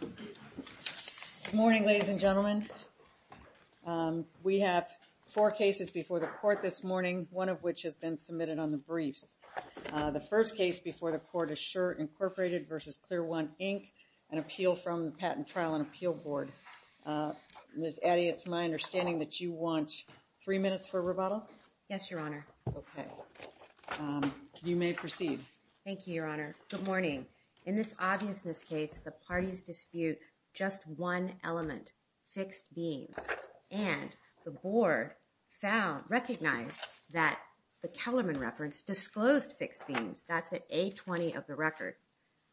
Good morning, ladies and gentlemen. We have four cases before the court this morning, one of which has been submitted on the briefs. The first case before the court is Sure Incorporated v. ClearOne, Inc., an appeal from the Patent Trial and Appeal Board. Ms. Addy, it's my understanding that you want three minutes for rebuttal? Yes, Your Honor. Okay. You may proceed. Thank you, Your Honor. Good morning. In this obviousness case, the parties dispute just one element, fixed beams. And the board recognized that the Kellerman reference disclosed fixed beams. That's at A20 of the record.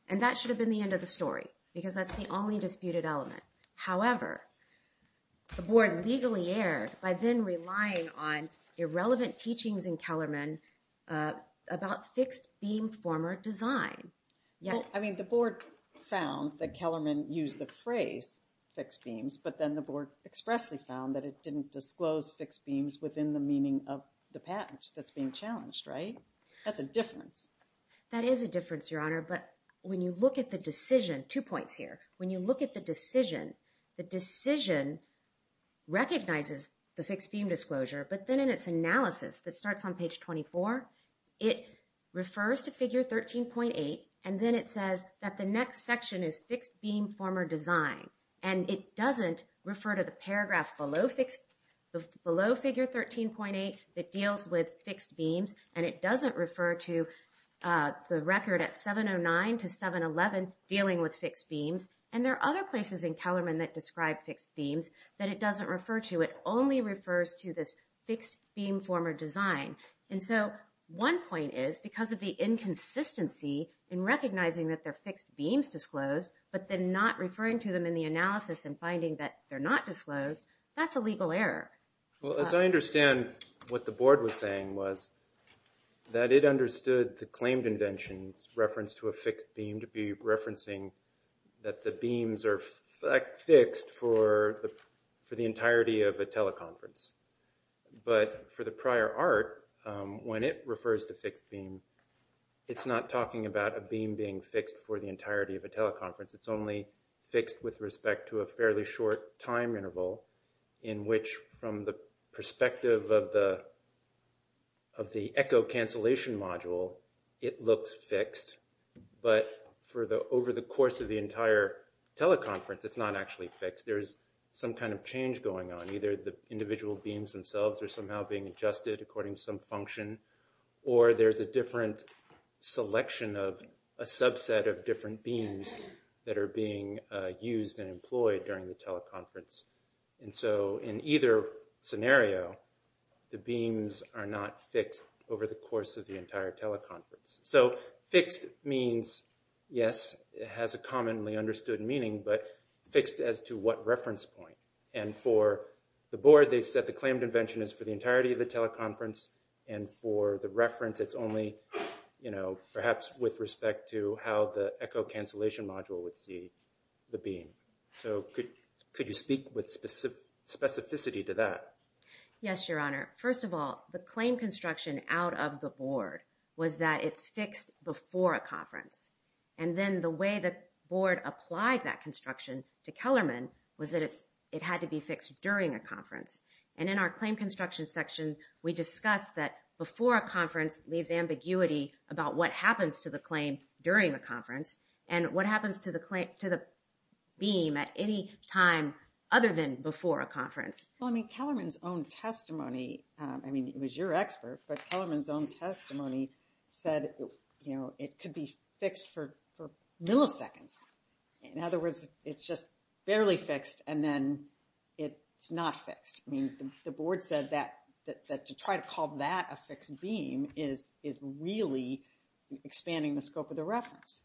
And that should have been the end of the story because that's the only disputed element. However, the board legally erred by then relying on irrelevant teachings in Kellerman about fixed beam former design. I mean, the board found that Kellerman used the phrase fixed beams, but then the board expressly found that it didn't disclose fixed beams within the meaning of the patent that's being challenged, right? That's a difference. That is a difference, Your Honor. But when you look at the decision, two points here. When you look at the decision, the decision recognizes the fixed beam disclosure, but then in its analysis that starts on page 24, it refers to figure 13.8, and then it says that the next section is fixed beam former design. And it doesn't refer to the paragraph below figure 13.8 that deals with fixed beams, and it doesn't refer to the record at 709 to 711 dealing with fixed beams. And there are other places in Kellerman that describe fixed beams that it doesn't refer to. It only refers to this fixed beam former design. And so one point is because of the inconsistency in recognizing that they're fixed beams disclosed, but then not referring to them in the analysis and finding that they're not disclosed, that's a legal error. Well, as I understand what the board was saying was that it understood the claimed invention's reference to a fixed beam that the beams are fixed for the entirety of a teleconference. But for the prior art, when it refers to fixed beam, it's not talking about a beam being fixed for the entirety of a teleconference. It's only fixed with respect to a fairly short time interval in which from the perspective of the echo cancellation module, it looks fixed, but over the course of the entire teleconference, it's not actually fixed. There's some kind of change going on. Either the individual beams themselves are somehow being adjusted according to some function, or there's a different selection of a subset of different beams that are being used and employed during the teleconference. And so in either scenario, the beams are not fixed over the course of the entire teleconference. So fixed means, yes, it has a commonly understood meaning, but fixed as to what reference point. And for the board, they said the claimed invention is for the entirety of the teleconference, and for the reference, it's only perhaps with respect to how the echo cancellation module would see the beam. So could you speak with specificity to that? Yes, Your Honor. First of all, the claim construction out of the board was that it's fixed before a conference. And then the way the board applied that construction to Kellerman was that it had to be fixed during a conference. And in our claim construction section, we discussed that before a conference leaves ambiguity about what happens to the claim during a conference, and what happens to the beam at any time other than before a conference. Well, I mean, Kellerman's own testimony, I mean, it was your expert, but Kellerman's own testimony said, you know, it could be fixed for milliseconds. In other words, it's just barely fixed, and then it's not fixed. I mean, the board said that to try to call that a fixed beam is really expanding the scope of the reference.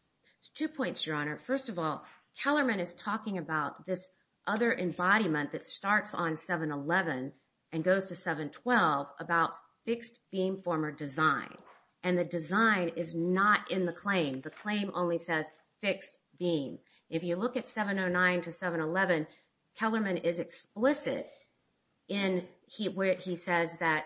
Two points, Your Honor. First of all, Kellerman is talking about this other embodiment that starts on 7-11 and goes to 7-12 about fixed beam former design. And the design is not in the claim. The claim only says fixed beam. If you look at 7-09 to 7-11, Kellerman is explicit in where he says that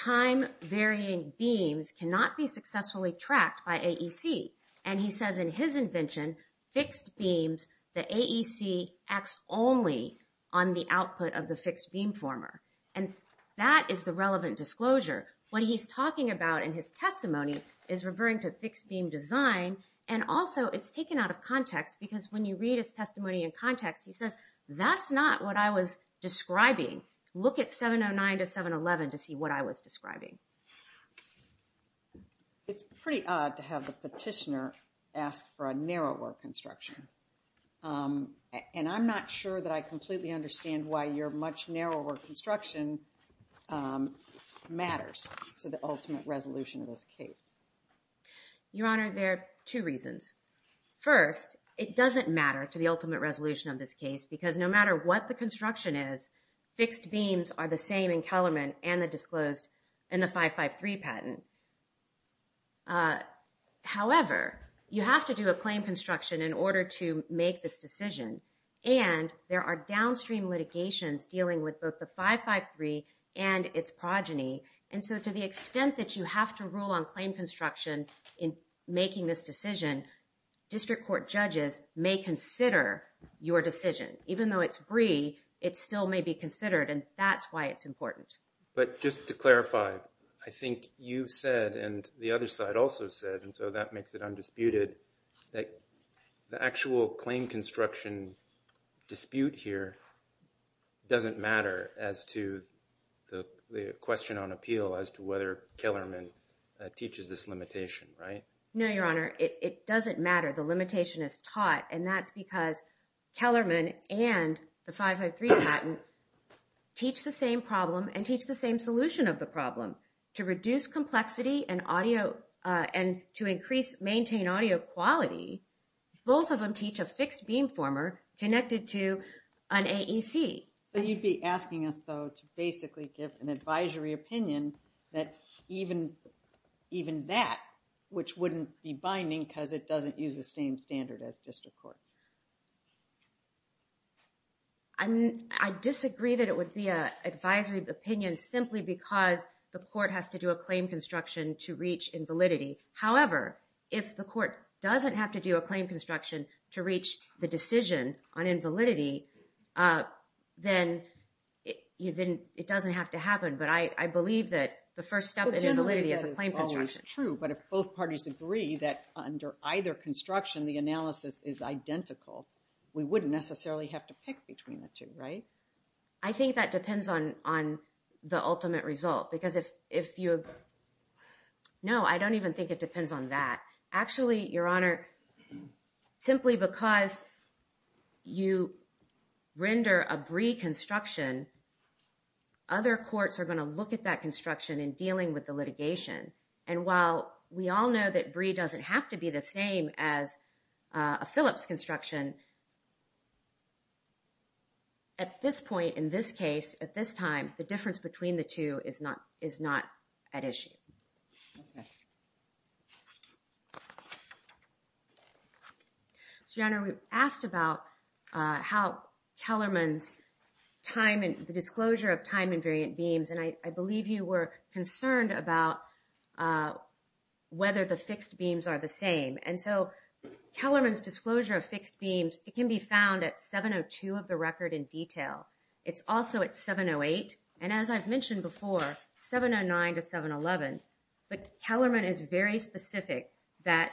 time-varying beams cannot be successfully tracked by AEC. And he says in his invention, fixed beams, the AEC acts only on the output of the fixed beam former. And that is the relevant disclosure. What he's talking about in his testimony is referring to fixed beam design. And also, it's taken out of context, because when you read his testimony in context, he says, that's not what I was describing. Look at 7-09 to 7-11 to see what I was describing. It's pretty odd to have the petitioner ask for a narrower construction. And I'm not sure that I completely understand why your much narrower construction matters to the ultimate resolution of this case. Your Honor, there are two reasons. First, it doesn't matter to the ultimate resolution of this case, because no matter what the construction is, fixed beams are the same in Kellerman and the disclosed and the 553 patent. However, you have to do a claim construction in order to make this decision. And there are downstream litigations dealing with both the 553 and its progeny. And so to the extent that you have to rule on claim construction in making this decision, district court judges may consider your decision. Even though it's Bree, it still may be considered, and that's why it's important. But just to clarify, I think you said, and the other side also said, and so that makes it undisputed, that the actual claim construction dispute here doesn't matter as to the question on appeal as to whether Kellerman teaches this limitation, right? No, Your Honor, it doesn't matter. The limitation is taught, and that's because Kellerman and the 553 patent teach the same problem and teach the same solution of the problem, to reduce complexity and to maintain audio quality. Both of them teach a fixed beam former connected to an AEC. So you'd be asking us, though, to basically give an advisory opinion that even that, which wouldn't be binding because it doesn't use the same standard as district courts. I disagree that it would be an advisory opinion simply because the court has to do a claim construction to reach invalidity. However, if the court doesn't have to do a claim construction to reach the decision on invalidity, then it doesn't have to happen. But I believe that the first step in invalidity is a claim construction. That is true, but if both parties agree that under either construction, the analysis is identical, we wouldn't necessarily have to pick between the two, right? I think that depends on the ultimate result because if you... No, I don't even think it depends on that. Actually, Your Honor, simply because you render a brie construction, other courts are going to look at that construction in dealing with the litigation. And while we all know that brie doesn't have to be the same as a Phillips construction, at this point, in this case, at this time, the difference between the two is not at issue. Okay. Your Honor, we asked about how Kellerman's time and the disclosure of time-invariant beams, and I believe you were concerned about whether the fixed beams are the same. And so Kellerman's disclosure of fixed beams, it can be found at 702 of the record in detail. It's also at 708, and as I've mentioned before, 709 to 711. But Kellerman is very specific that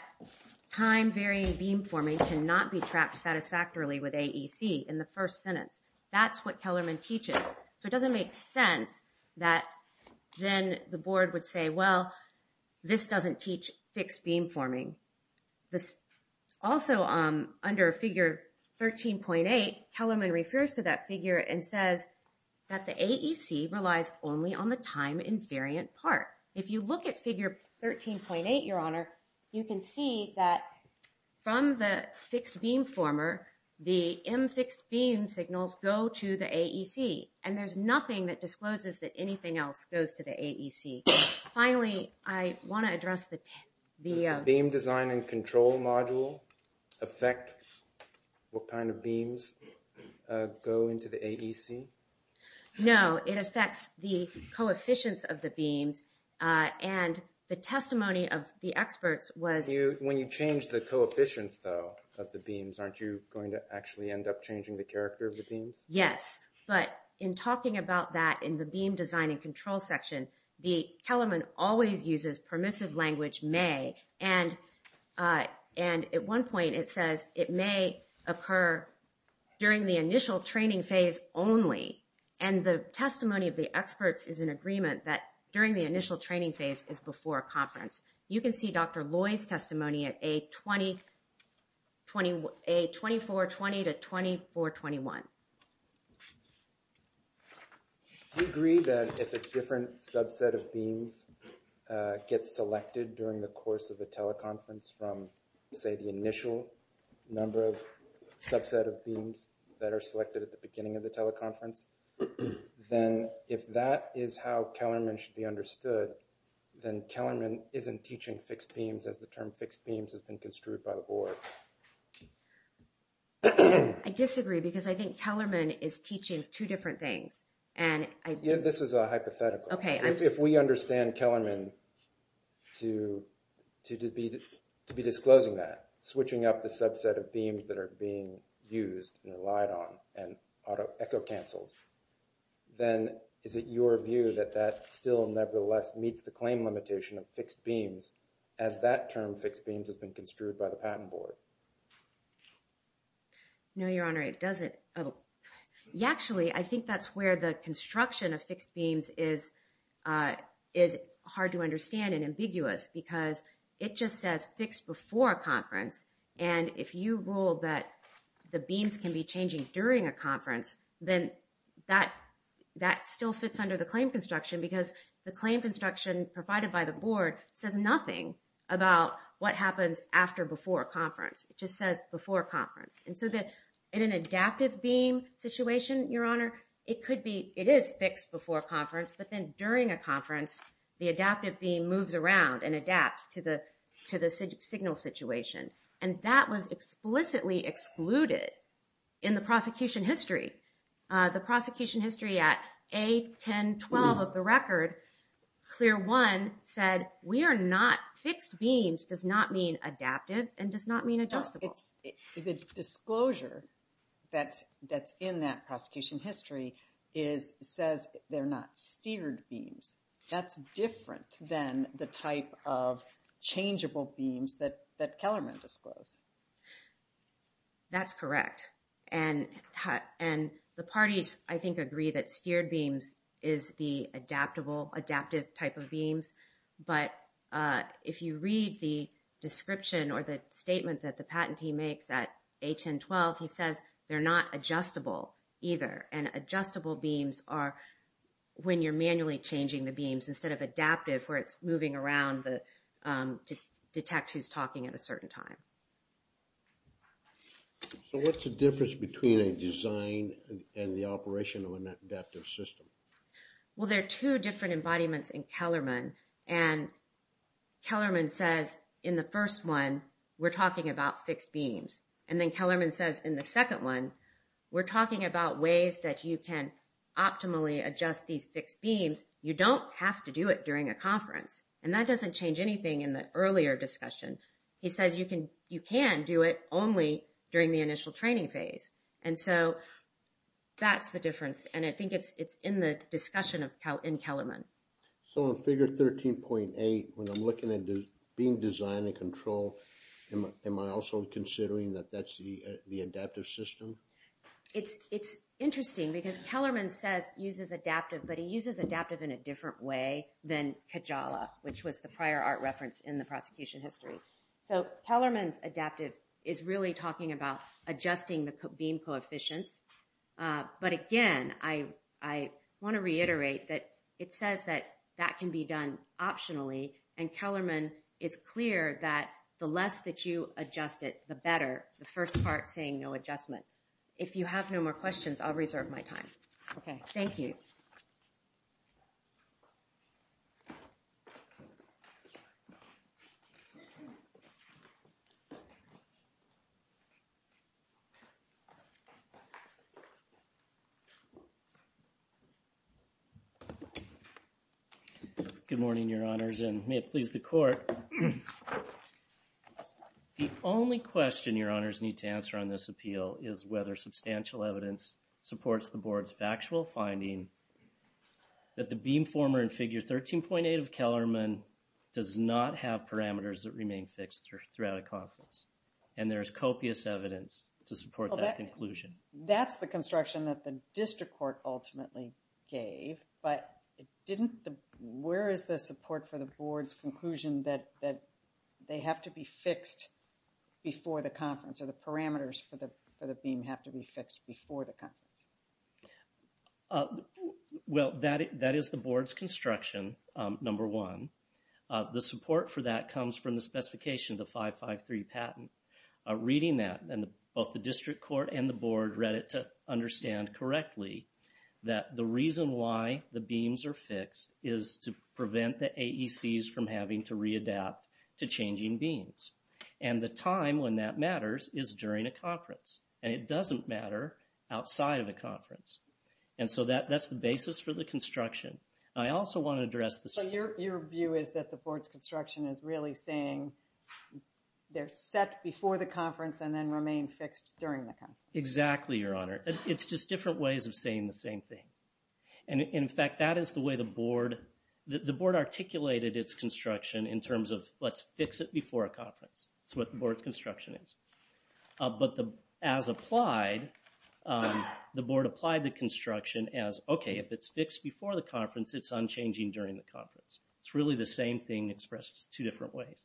time-varying beam forming cannot be trapped satisfactorily with AEC in the first sentence. That's what Kellerman teaches. So it doesn't make sense that then the board would say, well, this doesn't teach fixed beam forming. Also, under figure 13.8, Kellerman refers to that figure and says that the AEC relies only on the time-invariant part. If you look at figure 13.8, Your Honor, you can see that from the fixed beam former, the M fixed beam signals go to the AEC, and there's nothing that discloses that anything else goes to the AEC. Finally, I want to address the- The beam design and control module affect what kind of beams go into the AEC? No, it affects the coefficients of the beams, and the testimony of the experts was- When you change the coefficients, though, of the beams, aren't you going to actually end up changing the character of the beams? Yes, but in talking about that in the beam design and control section, the Kellerman always uses permissive language may, and at one point it says it may occur during the initial training phase only. And the testimony of the experts is in agreement that during the initial training phase is before conference. You can see Dr. Loy's testimony at A2420 to A2421. Do you agree that if a different subset of beams gets selected during the course of a teleconference from, say, the initial number of subset of beams that are selected at the beginning of the teleconference, then if that is how Kellerman should be understood, then Kellerman isn't teaching fixed beams as the term fixed beams has been construed by the board. I disagree because I think Kellerman is teaching two different things. This is a hypothetical. If we understand Kellerman to be disclosing that, then is it your view that that still nevertheless meets the claim limitation of fixed beams as that term fixed beams has been construed by the patent board? No, Your Honor, it doesn't. Actually, I think that's where the construction of fixed beams is hard to understand and ambiguous because it just says fixed before a conference. And if you rule that the beams can be changing during a conference, then that still fits under the claim construction because the claim construction provided by the board says nothing about what happens after before a conference. It just says before a conference. And so in an adaptive beam situation, Your Honor, it is fixed before a conference, but then during a conference, the adaptive beam moves around and adapts to the signal situation. And that was explicitly excluded in the prosecution history. The prosecution history at A-10-12 of the record, clear one said we are not, fixed beams does not mean adaptive and does not mean adjustable. The disclosure that's in that prosecution history says they're not steered beams. That's different than the type of changeable beams that Kellerman disclosed. That's correct. And the parties, I think, agree that steered beams is the adaptable, adaptive type of beams. But if you read the description or the statement that the patentee makes at A-10-12, he says they're not adjustable either. And adjustable beams are when you're manually changing the beams instead of adaptive, where it's moving around to detect who's talking at a certain time. So what's the difference between a design and the operation of an adaptive system? Well, there are two different embodiments in Kellerman. And Kellerman says in the first one, we're talking about fixed beams. And then Kellerman says in the second one, we're talking about ways that you can optimally adjust these fixed beams. You don't have to do it during a conference. And that doesn't change anything in the earlier discussion. He says you can do it only during the initial training phase. And so that's the difference. And I think it's in the discussion in Kellerman. So in Figure 13.8, when I'm looking at beam design and control, am I also considering that that's the adaptive system? It's interesting because Kellerman says uses adaptive, but he uses adaptive in a different way than Kajala, which was the prior art reference in the prosecution history. So Kellerman's adaptive is really talking about adjusting the beam coefficients. But again, I want to reiterate that it says that that can be done optionally. And Kellerman is clear that the less that you adjust it, the better, the first part saying no adjustment. If you have no more questions, I'll reserve my time. Okay, thank you. Good morning, Your Honors, and may it please the court. The only question Your Honors need to answer on this appeal is whether substantial evidence supports the board's factual finding that the beam former in Figure 13.8 of Kellerman does not have parameters that remain fixed throughout a conference. And there is copious evidence to support that conclusion. That's the construction that the district court ultimately gave, but where is the support for the board's conclusion that they have to be fixed before the conference, or the parameters for the beam have to be fixed before the conference? Well, that is the board's construction, number one. The support for that comes from the specification of the 553 patent. Reading that, both the district court and the board read it to understand correctly that the reason why the beams are fixed is to prevent the AECs from having to readapt to changing beams. And the time when that matters is during a conference, and it doesn't matter outside of a conference. And so that's the basis for the construction. I also want to address the... So your view is that the board's construction is really saying they're set before the conference and then remain fixed during the conference? Exactly, Your Honor. It's just different ways of saying the same thing. And in fact, that is the way the board articulated its construction in terms of let's fix it before a conference. That's what the board's construction is. But as applied, the board applied the construction as, okay, if it's fixed before the conference, it's unchanging during the conference. It's really the same thing expressed in two different ways.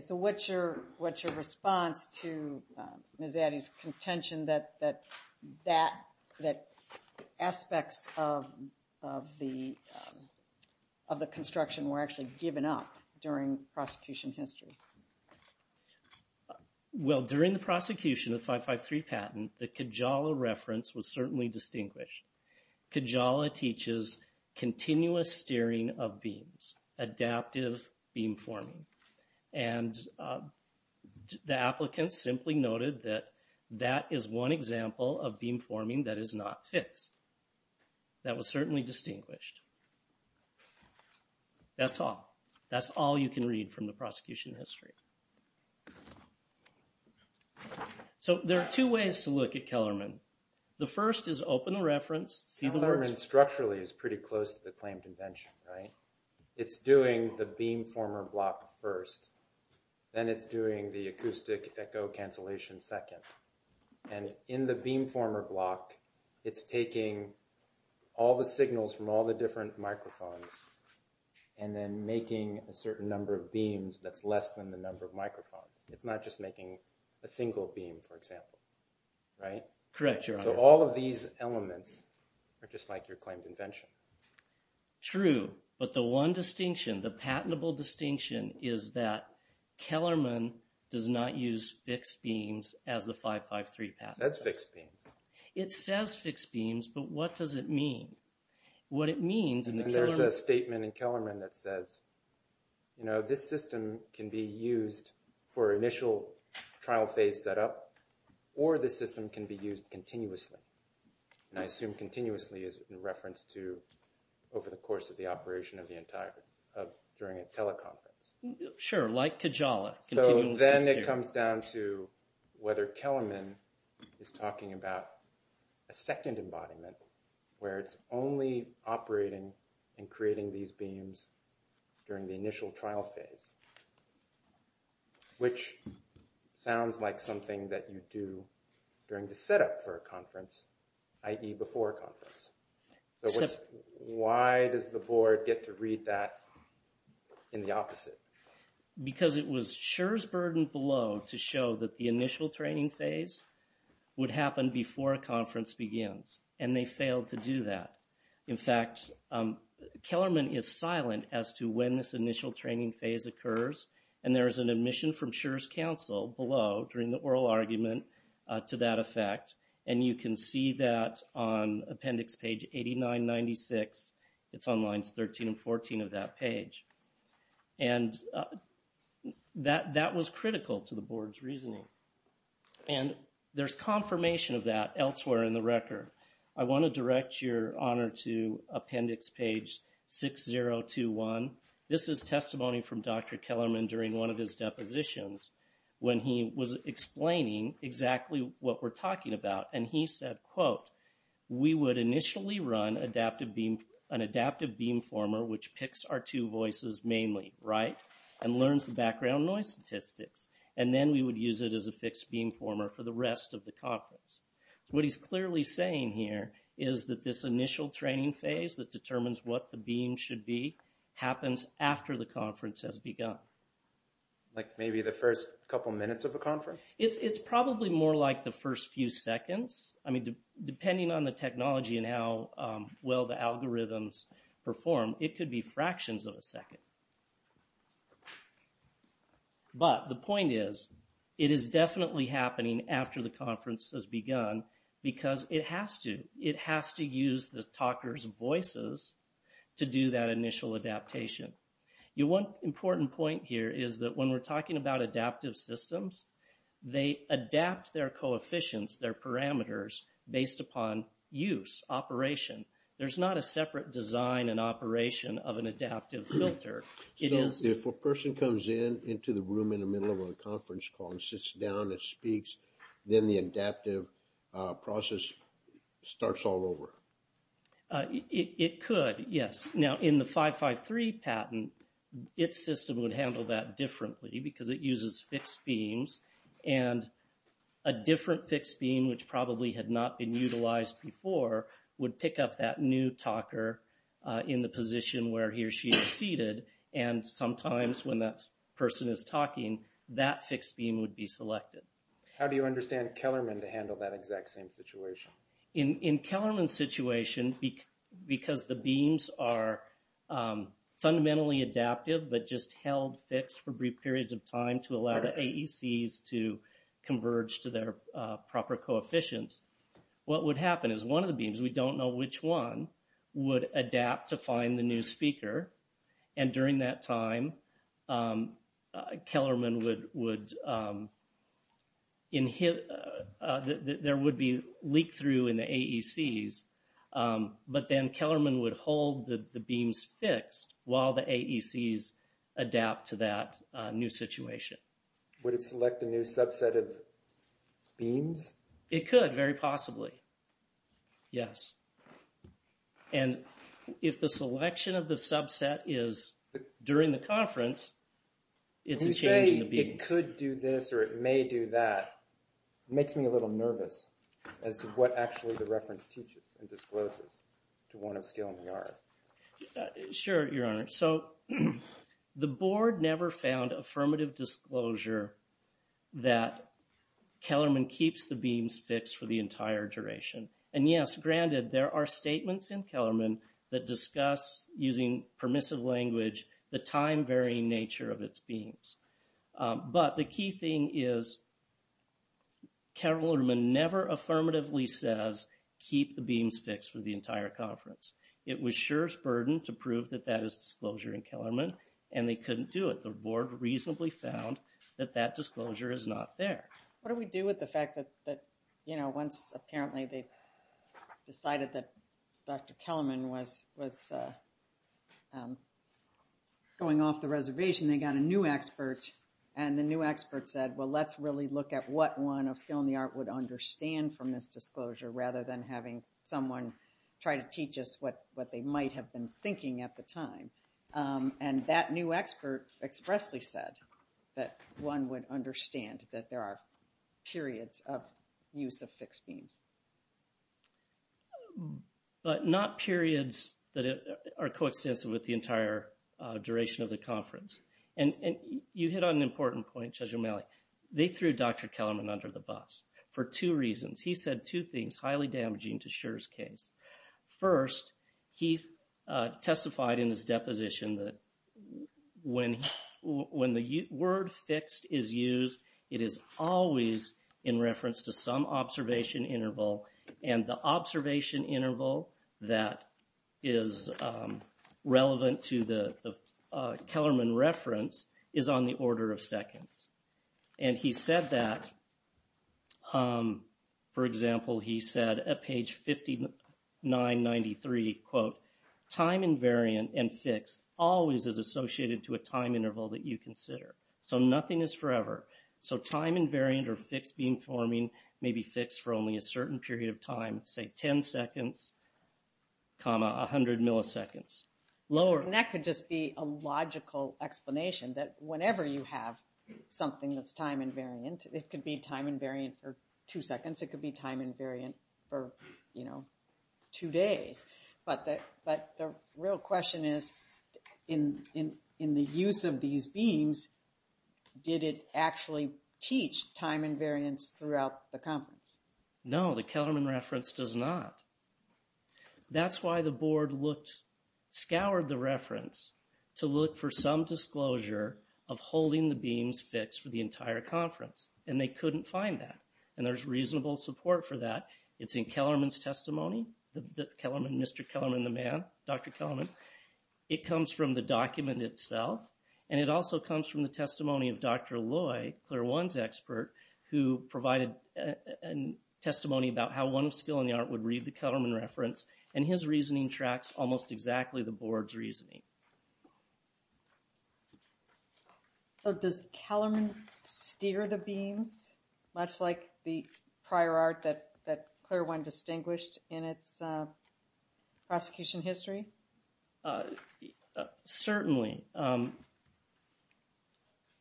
So what's your response to Ms. Addy's contention that aspects of the construction were actually given up during prosecution history? Well, during the prosecution of 553 patent, the Kijala reference was certainly distinguished. Kijala teaches continuous steering of beams, adaptive beam forming. And the applicants simply noted that that is one example of beam forming that is not fixed. That was certainly distinguished. That's all. That's all you can read from the prosecution history. So there are two ways to look at Kellerman. The first is open the reference. Kellerman structurally is pretty close to the claim convention, right? It's doing the beam former block first. Then it's doing the acoustic echo cancellation second. And in the beam former block, it's taking all the signals from all the different microphones and then making a certain number of beams that's less than the number of microphones. It's not just making a single beam, for example, right? Correct, Your Honor. So all of these elements are just like your claim convention. True, but the one distinction, the patentable distinction, is that Kellerman does not use fixed beams as the 553 patent. It says fixed beams, but what does it mean? What it means in the Kellerman... There's a statement in Kellerman that says, you know, this system can be used for initial trial phase setup, or the system can be used continuously. And I assume continuously is in reference to over the course of the operation during a teleconference. Sure, like Kajala. So then it comes down to whether Kellerman is talking about a second embodiment where it's only operating and creating these beams during the initial trial phase, which sounds like something that you do during the setup for a conference, i.e. before a conference. So why does the board get to read that in the opposite? Because it was Schur's burden below to show that the initial training phase would happen before a conference begins, and they failed to do that. In fact, Kellerman is silent as to when this initial training phase occurs, and there is an admission from Schur's counsel below during the oral argument to that effect. And you can see that on appendix page 8996. It's on lines 13 and 14 of that page. And that was critical to the board's reasoning. And there's confirmation of that elsewhere in the record. I want to direct your honor to appendix page 6021. This is testimony from Dr. Kellerman during one of his depositions when he was explaining exactly what we're talking about. And he said, quote, we would initially run an adaptive beam former which picks our two voices mainly, right, and learns the background noise statistics. And then we would use it as a fixed beam former for the rest of the conference. What he's clearly saying here is that this initial training phase that determines what the beam should be happens after the conference has begun. Like maybe the first couple minutes of a conference? It's probably more like the first few seconds. I mean, depending on the technology and how well the algorithms perform, it could be fractions of a second. But the point is, it is definitely happening after the conference has begun because it has to. It has to use the talker's voices to do that initial adaptation. One important point here is that when we're talking about adaptive systems, they adapt their coefficients, their parameters, based upon use, operation. There's not a separate design and operation of an adaptive filter. So if a person comes in into the room in the middle of a conference call and sits down and speaks, then the adaptive process starts all over? It could, yes. Now, in the 553 patent, its system would handle that differently because it uses fixed beams. And a different fixed beam, which probably had not been utilized before, would pick up that new talker in the position where he or she is seated. And sometimes when that person is talking, that fixed beam would be selected. How do you understand Kellerman to handle that exact same situation? In Kellerman's situation, because the beams are fundamentally adaptive but just held fixed for brief periods of time to allow the AECs to converge to their proper coefficients, what would happen is one of the beams, we don't know which one, would adapt to find the new speaker. And during that time, there would be leak-through in the AECs. But then Kellerman would hold the beams fixed while the AECs adapt to that new situation. Would it select a new subset of beams? It could, very possibly. Yes. And if the selection of the subset is during the conference, it's a change in the beams. When you say it could do this or it may do that, it makes me a little nervous as to what actually the reference teaches and discloses to one of skill in the art. Sure, Your Honor. So the board never found affirmative disclosure that Kellerman keeps the beams fixed for the entire duration. And yes, granted, there are statements in Kellerman that discuss, using permissive language, the time-varying nature of its beams. But the key thing is Kellerman never affirmatively says, keep the beams fixed for the entire conference. It was Schur's burden to prove that that is disclosure in Kellerman, and they couldn't do it. The board reasonably found that that disclosure is not there. What do we do with the fact that, you know, once apparently they decided that Dr. Kellerman was going off the reservation, they got a new expert and the new expert said, well, let's really look at what one of skill in the art would understand from this disclosure, rather than having someone try to teach us what they might have been thinking at the time. And that new expert expressly said that one would understand that there are periods of use of fixed beams. But not periods that are coextensive with the entire duration of the conference. And you hit on an important point, Judge O'Malley. They threw Dr. Kellerman under the bus for two reasons. He said two things highly damaging to Schur's case. First, he testified in his deposition that when the word fixed is used, it is always in reference to some observation interval. And the observation interval that is relevant to the Kellerman reference is on the order of seconds. And he said that, for example, he said at page 5993, quote, time invariant and fixed always is associated to a time interval that you consider. So nothing is forever. So time invariant or fixed beam forming may be fixed for only a certain period of time, say 10 seconds, comma, 100 milliseconds. And that could just be a logical explanation that whenever you have something that's time invariant, it could be time invariant for two seconds. It could be time invariant for, you know, two days. But the real question is, in the use of these beams, did it actually teach time invariance throughout the conference? No, the Kellerman reference does not. That's why the board scoured the reference to look for some disclosure of holding the beams fixed for the entire conference. And they couldn't find that. And there's reasonable support for that. It's in Kellerman's testimony, Mr. Kellerman, the man, Dr. Kellerman. It comes from the document itself. And it also comes from the testimony of Dr. Loy, Claire One's expert, who provided testimony about how one of skill in the art would read the Kellerman reference. And his reasoning tracks almost exactly the board's reasoning. So does Kellerman steer the beams, much like the prior art that Claire One distinguished in its prosecution history? Certainly.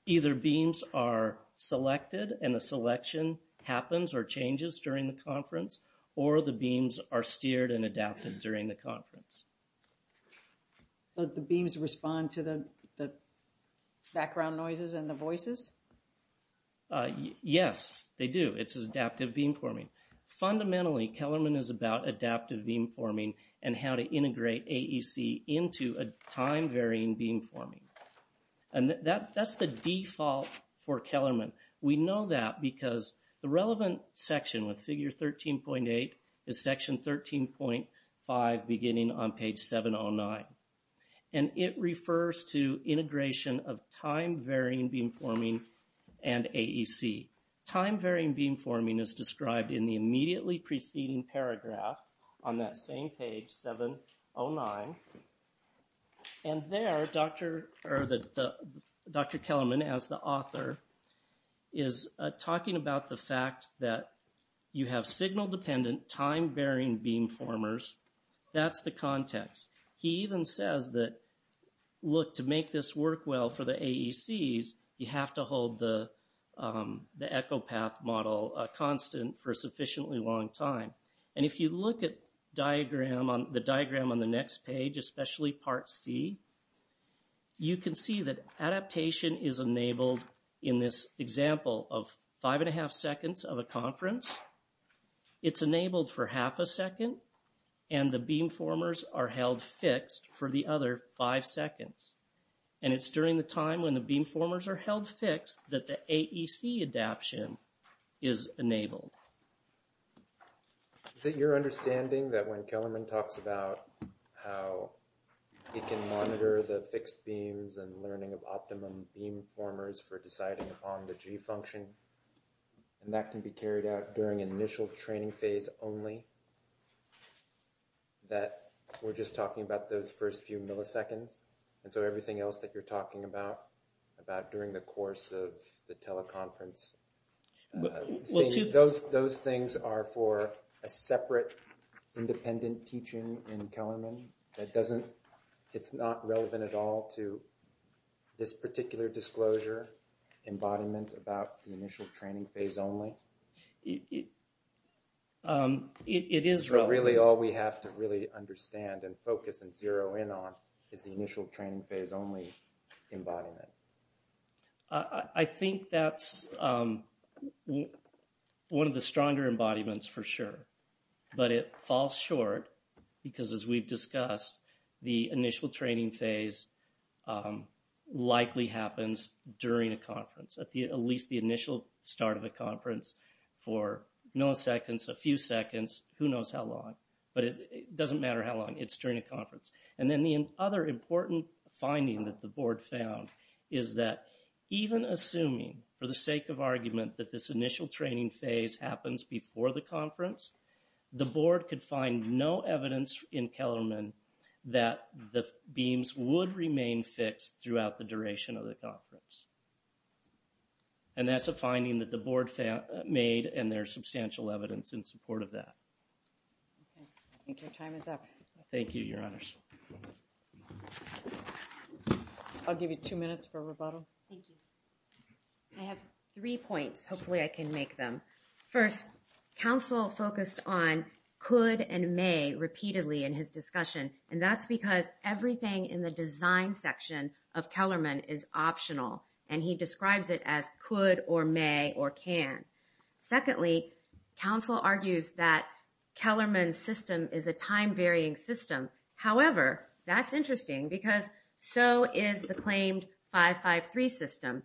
Either beams are selected and the selection happens or changes during the conference, or the beams are steered and adapted during the conference. So the beams respond to the background noises and the voices? Yes, they do. It's adaptive beamforming. Fundamentally, Kellerman is about adaptive beamforming and how to integrate AEC into a time-varying beamforming. And that's the default for Kellerman. We know that because the relevant section with figure 13.8 is section 13.5 beginning on page 709. And it refers to integration of time-varying beamforming and AEC. Time-varying beamforming is described in the immediately preceding paragraph on that same page, 709. And there, Dr. Kellerman, as the author, is talking about the fact that you have signal-dependent, time-varying beamformers. That's the context. He even says that, look, to make this work well for the AECs, you have to hold the echo path model constant for a sufficiently long time. And if you look at the diagram on the next page, especially part C, you can see that adaptation is enabled in this example of five and a half seconds of a conference. It's enabled for half a second, and the beamformers are held fixed for the other five seconds. And it's during the time when the beamformers are held fixed that the AEC adaption is enabled. Is it your understanding that when Kellerman talks about how he can monitor the fixed beams and learning of optimum beamformers for deciding upon the G function, and that can be carried out during initial training phase only, that we're just talking about those first few milliseconds? And so everything else that you're talking about, about during the course of the teleconference, those things are for a separate independent teaching in Kellerman? It's not relevant at all to this particular disclosure embodiment about the initial training phase only? It is relevant. So really all we have to really understand and focus and zero in on is the initial training phase only embodiment? I think that's one of the stronger embodiments for sure. But it falls short, because as we've discussed, the initial training phase likely happens during a conference. At least the initial start of a conference for milliseconds, a few seconds, who knows how long. But it doesn't matter how long, it's during a conference. And then the other important finding that the board found is that even assuming, for the sake of argument, that this initial training phase happens before the conference, the board could find no evidence in Kellerman that the beams would remain fixed throughout the duration of the conference. And that's a finding that the board made, and there's substantial evidence in support of that. I think your time is up. Thank you, your honors. I'll give you two minutes for rebuttal. Thank you. I have three points, hopefully I can make them. First, counsel focused on could and may repeatedly in his discussion. And that's because everything in the design section of Kellerman is optional. And he describes it as could or may or can. Secondly, counsel argues that Kellerman's system is a time-varying system. However, that's interesting, because so is the claimed 553 system.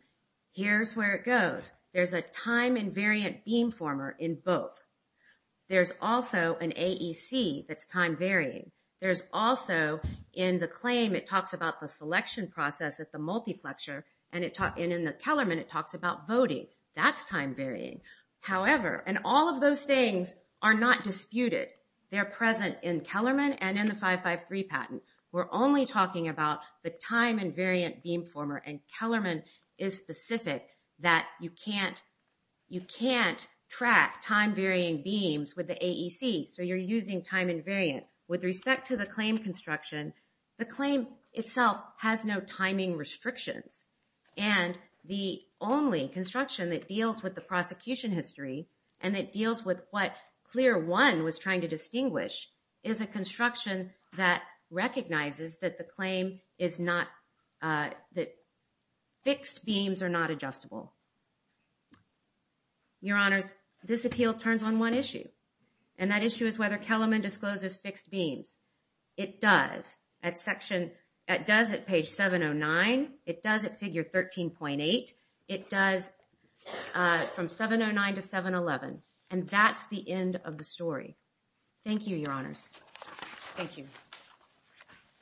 Here's where it goes. There's a time-invariant beam former in both. There's also an AEC that's time-varying. There's also in the claim, it talks about the selection process at the multiplexer. And in the Kellerman, it talks about voting. That's time-varying. However, and all of those things are not disputed. They're present in Kellerman and in the 553 patent. We're only talking about the time-invariant beam former. And Kellerman is specific that you can't track time-varying beams with the AEC. So you're using time-invariant. With respect to the claim construction, the claim itself has no timing restrictions. And the only construction that deals with the prosecution history, and it deals with what clear one was trying to distinguish, is a construction that recognizes that the claim is not, that fixed beams are not adjustable. Your Honors, this appeal turns on one issue. And that issue is whether Kellerman discloses fixed beams. It does. It does at page 709. It does at figure 13.8. It does from 709 to 711. And that's the end of the story. Thank you, Your Honors. Thank you.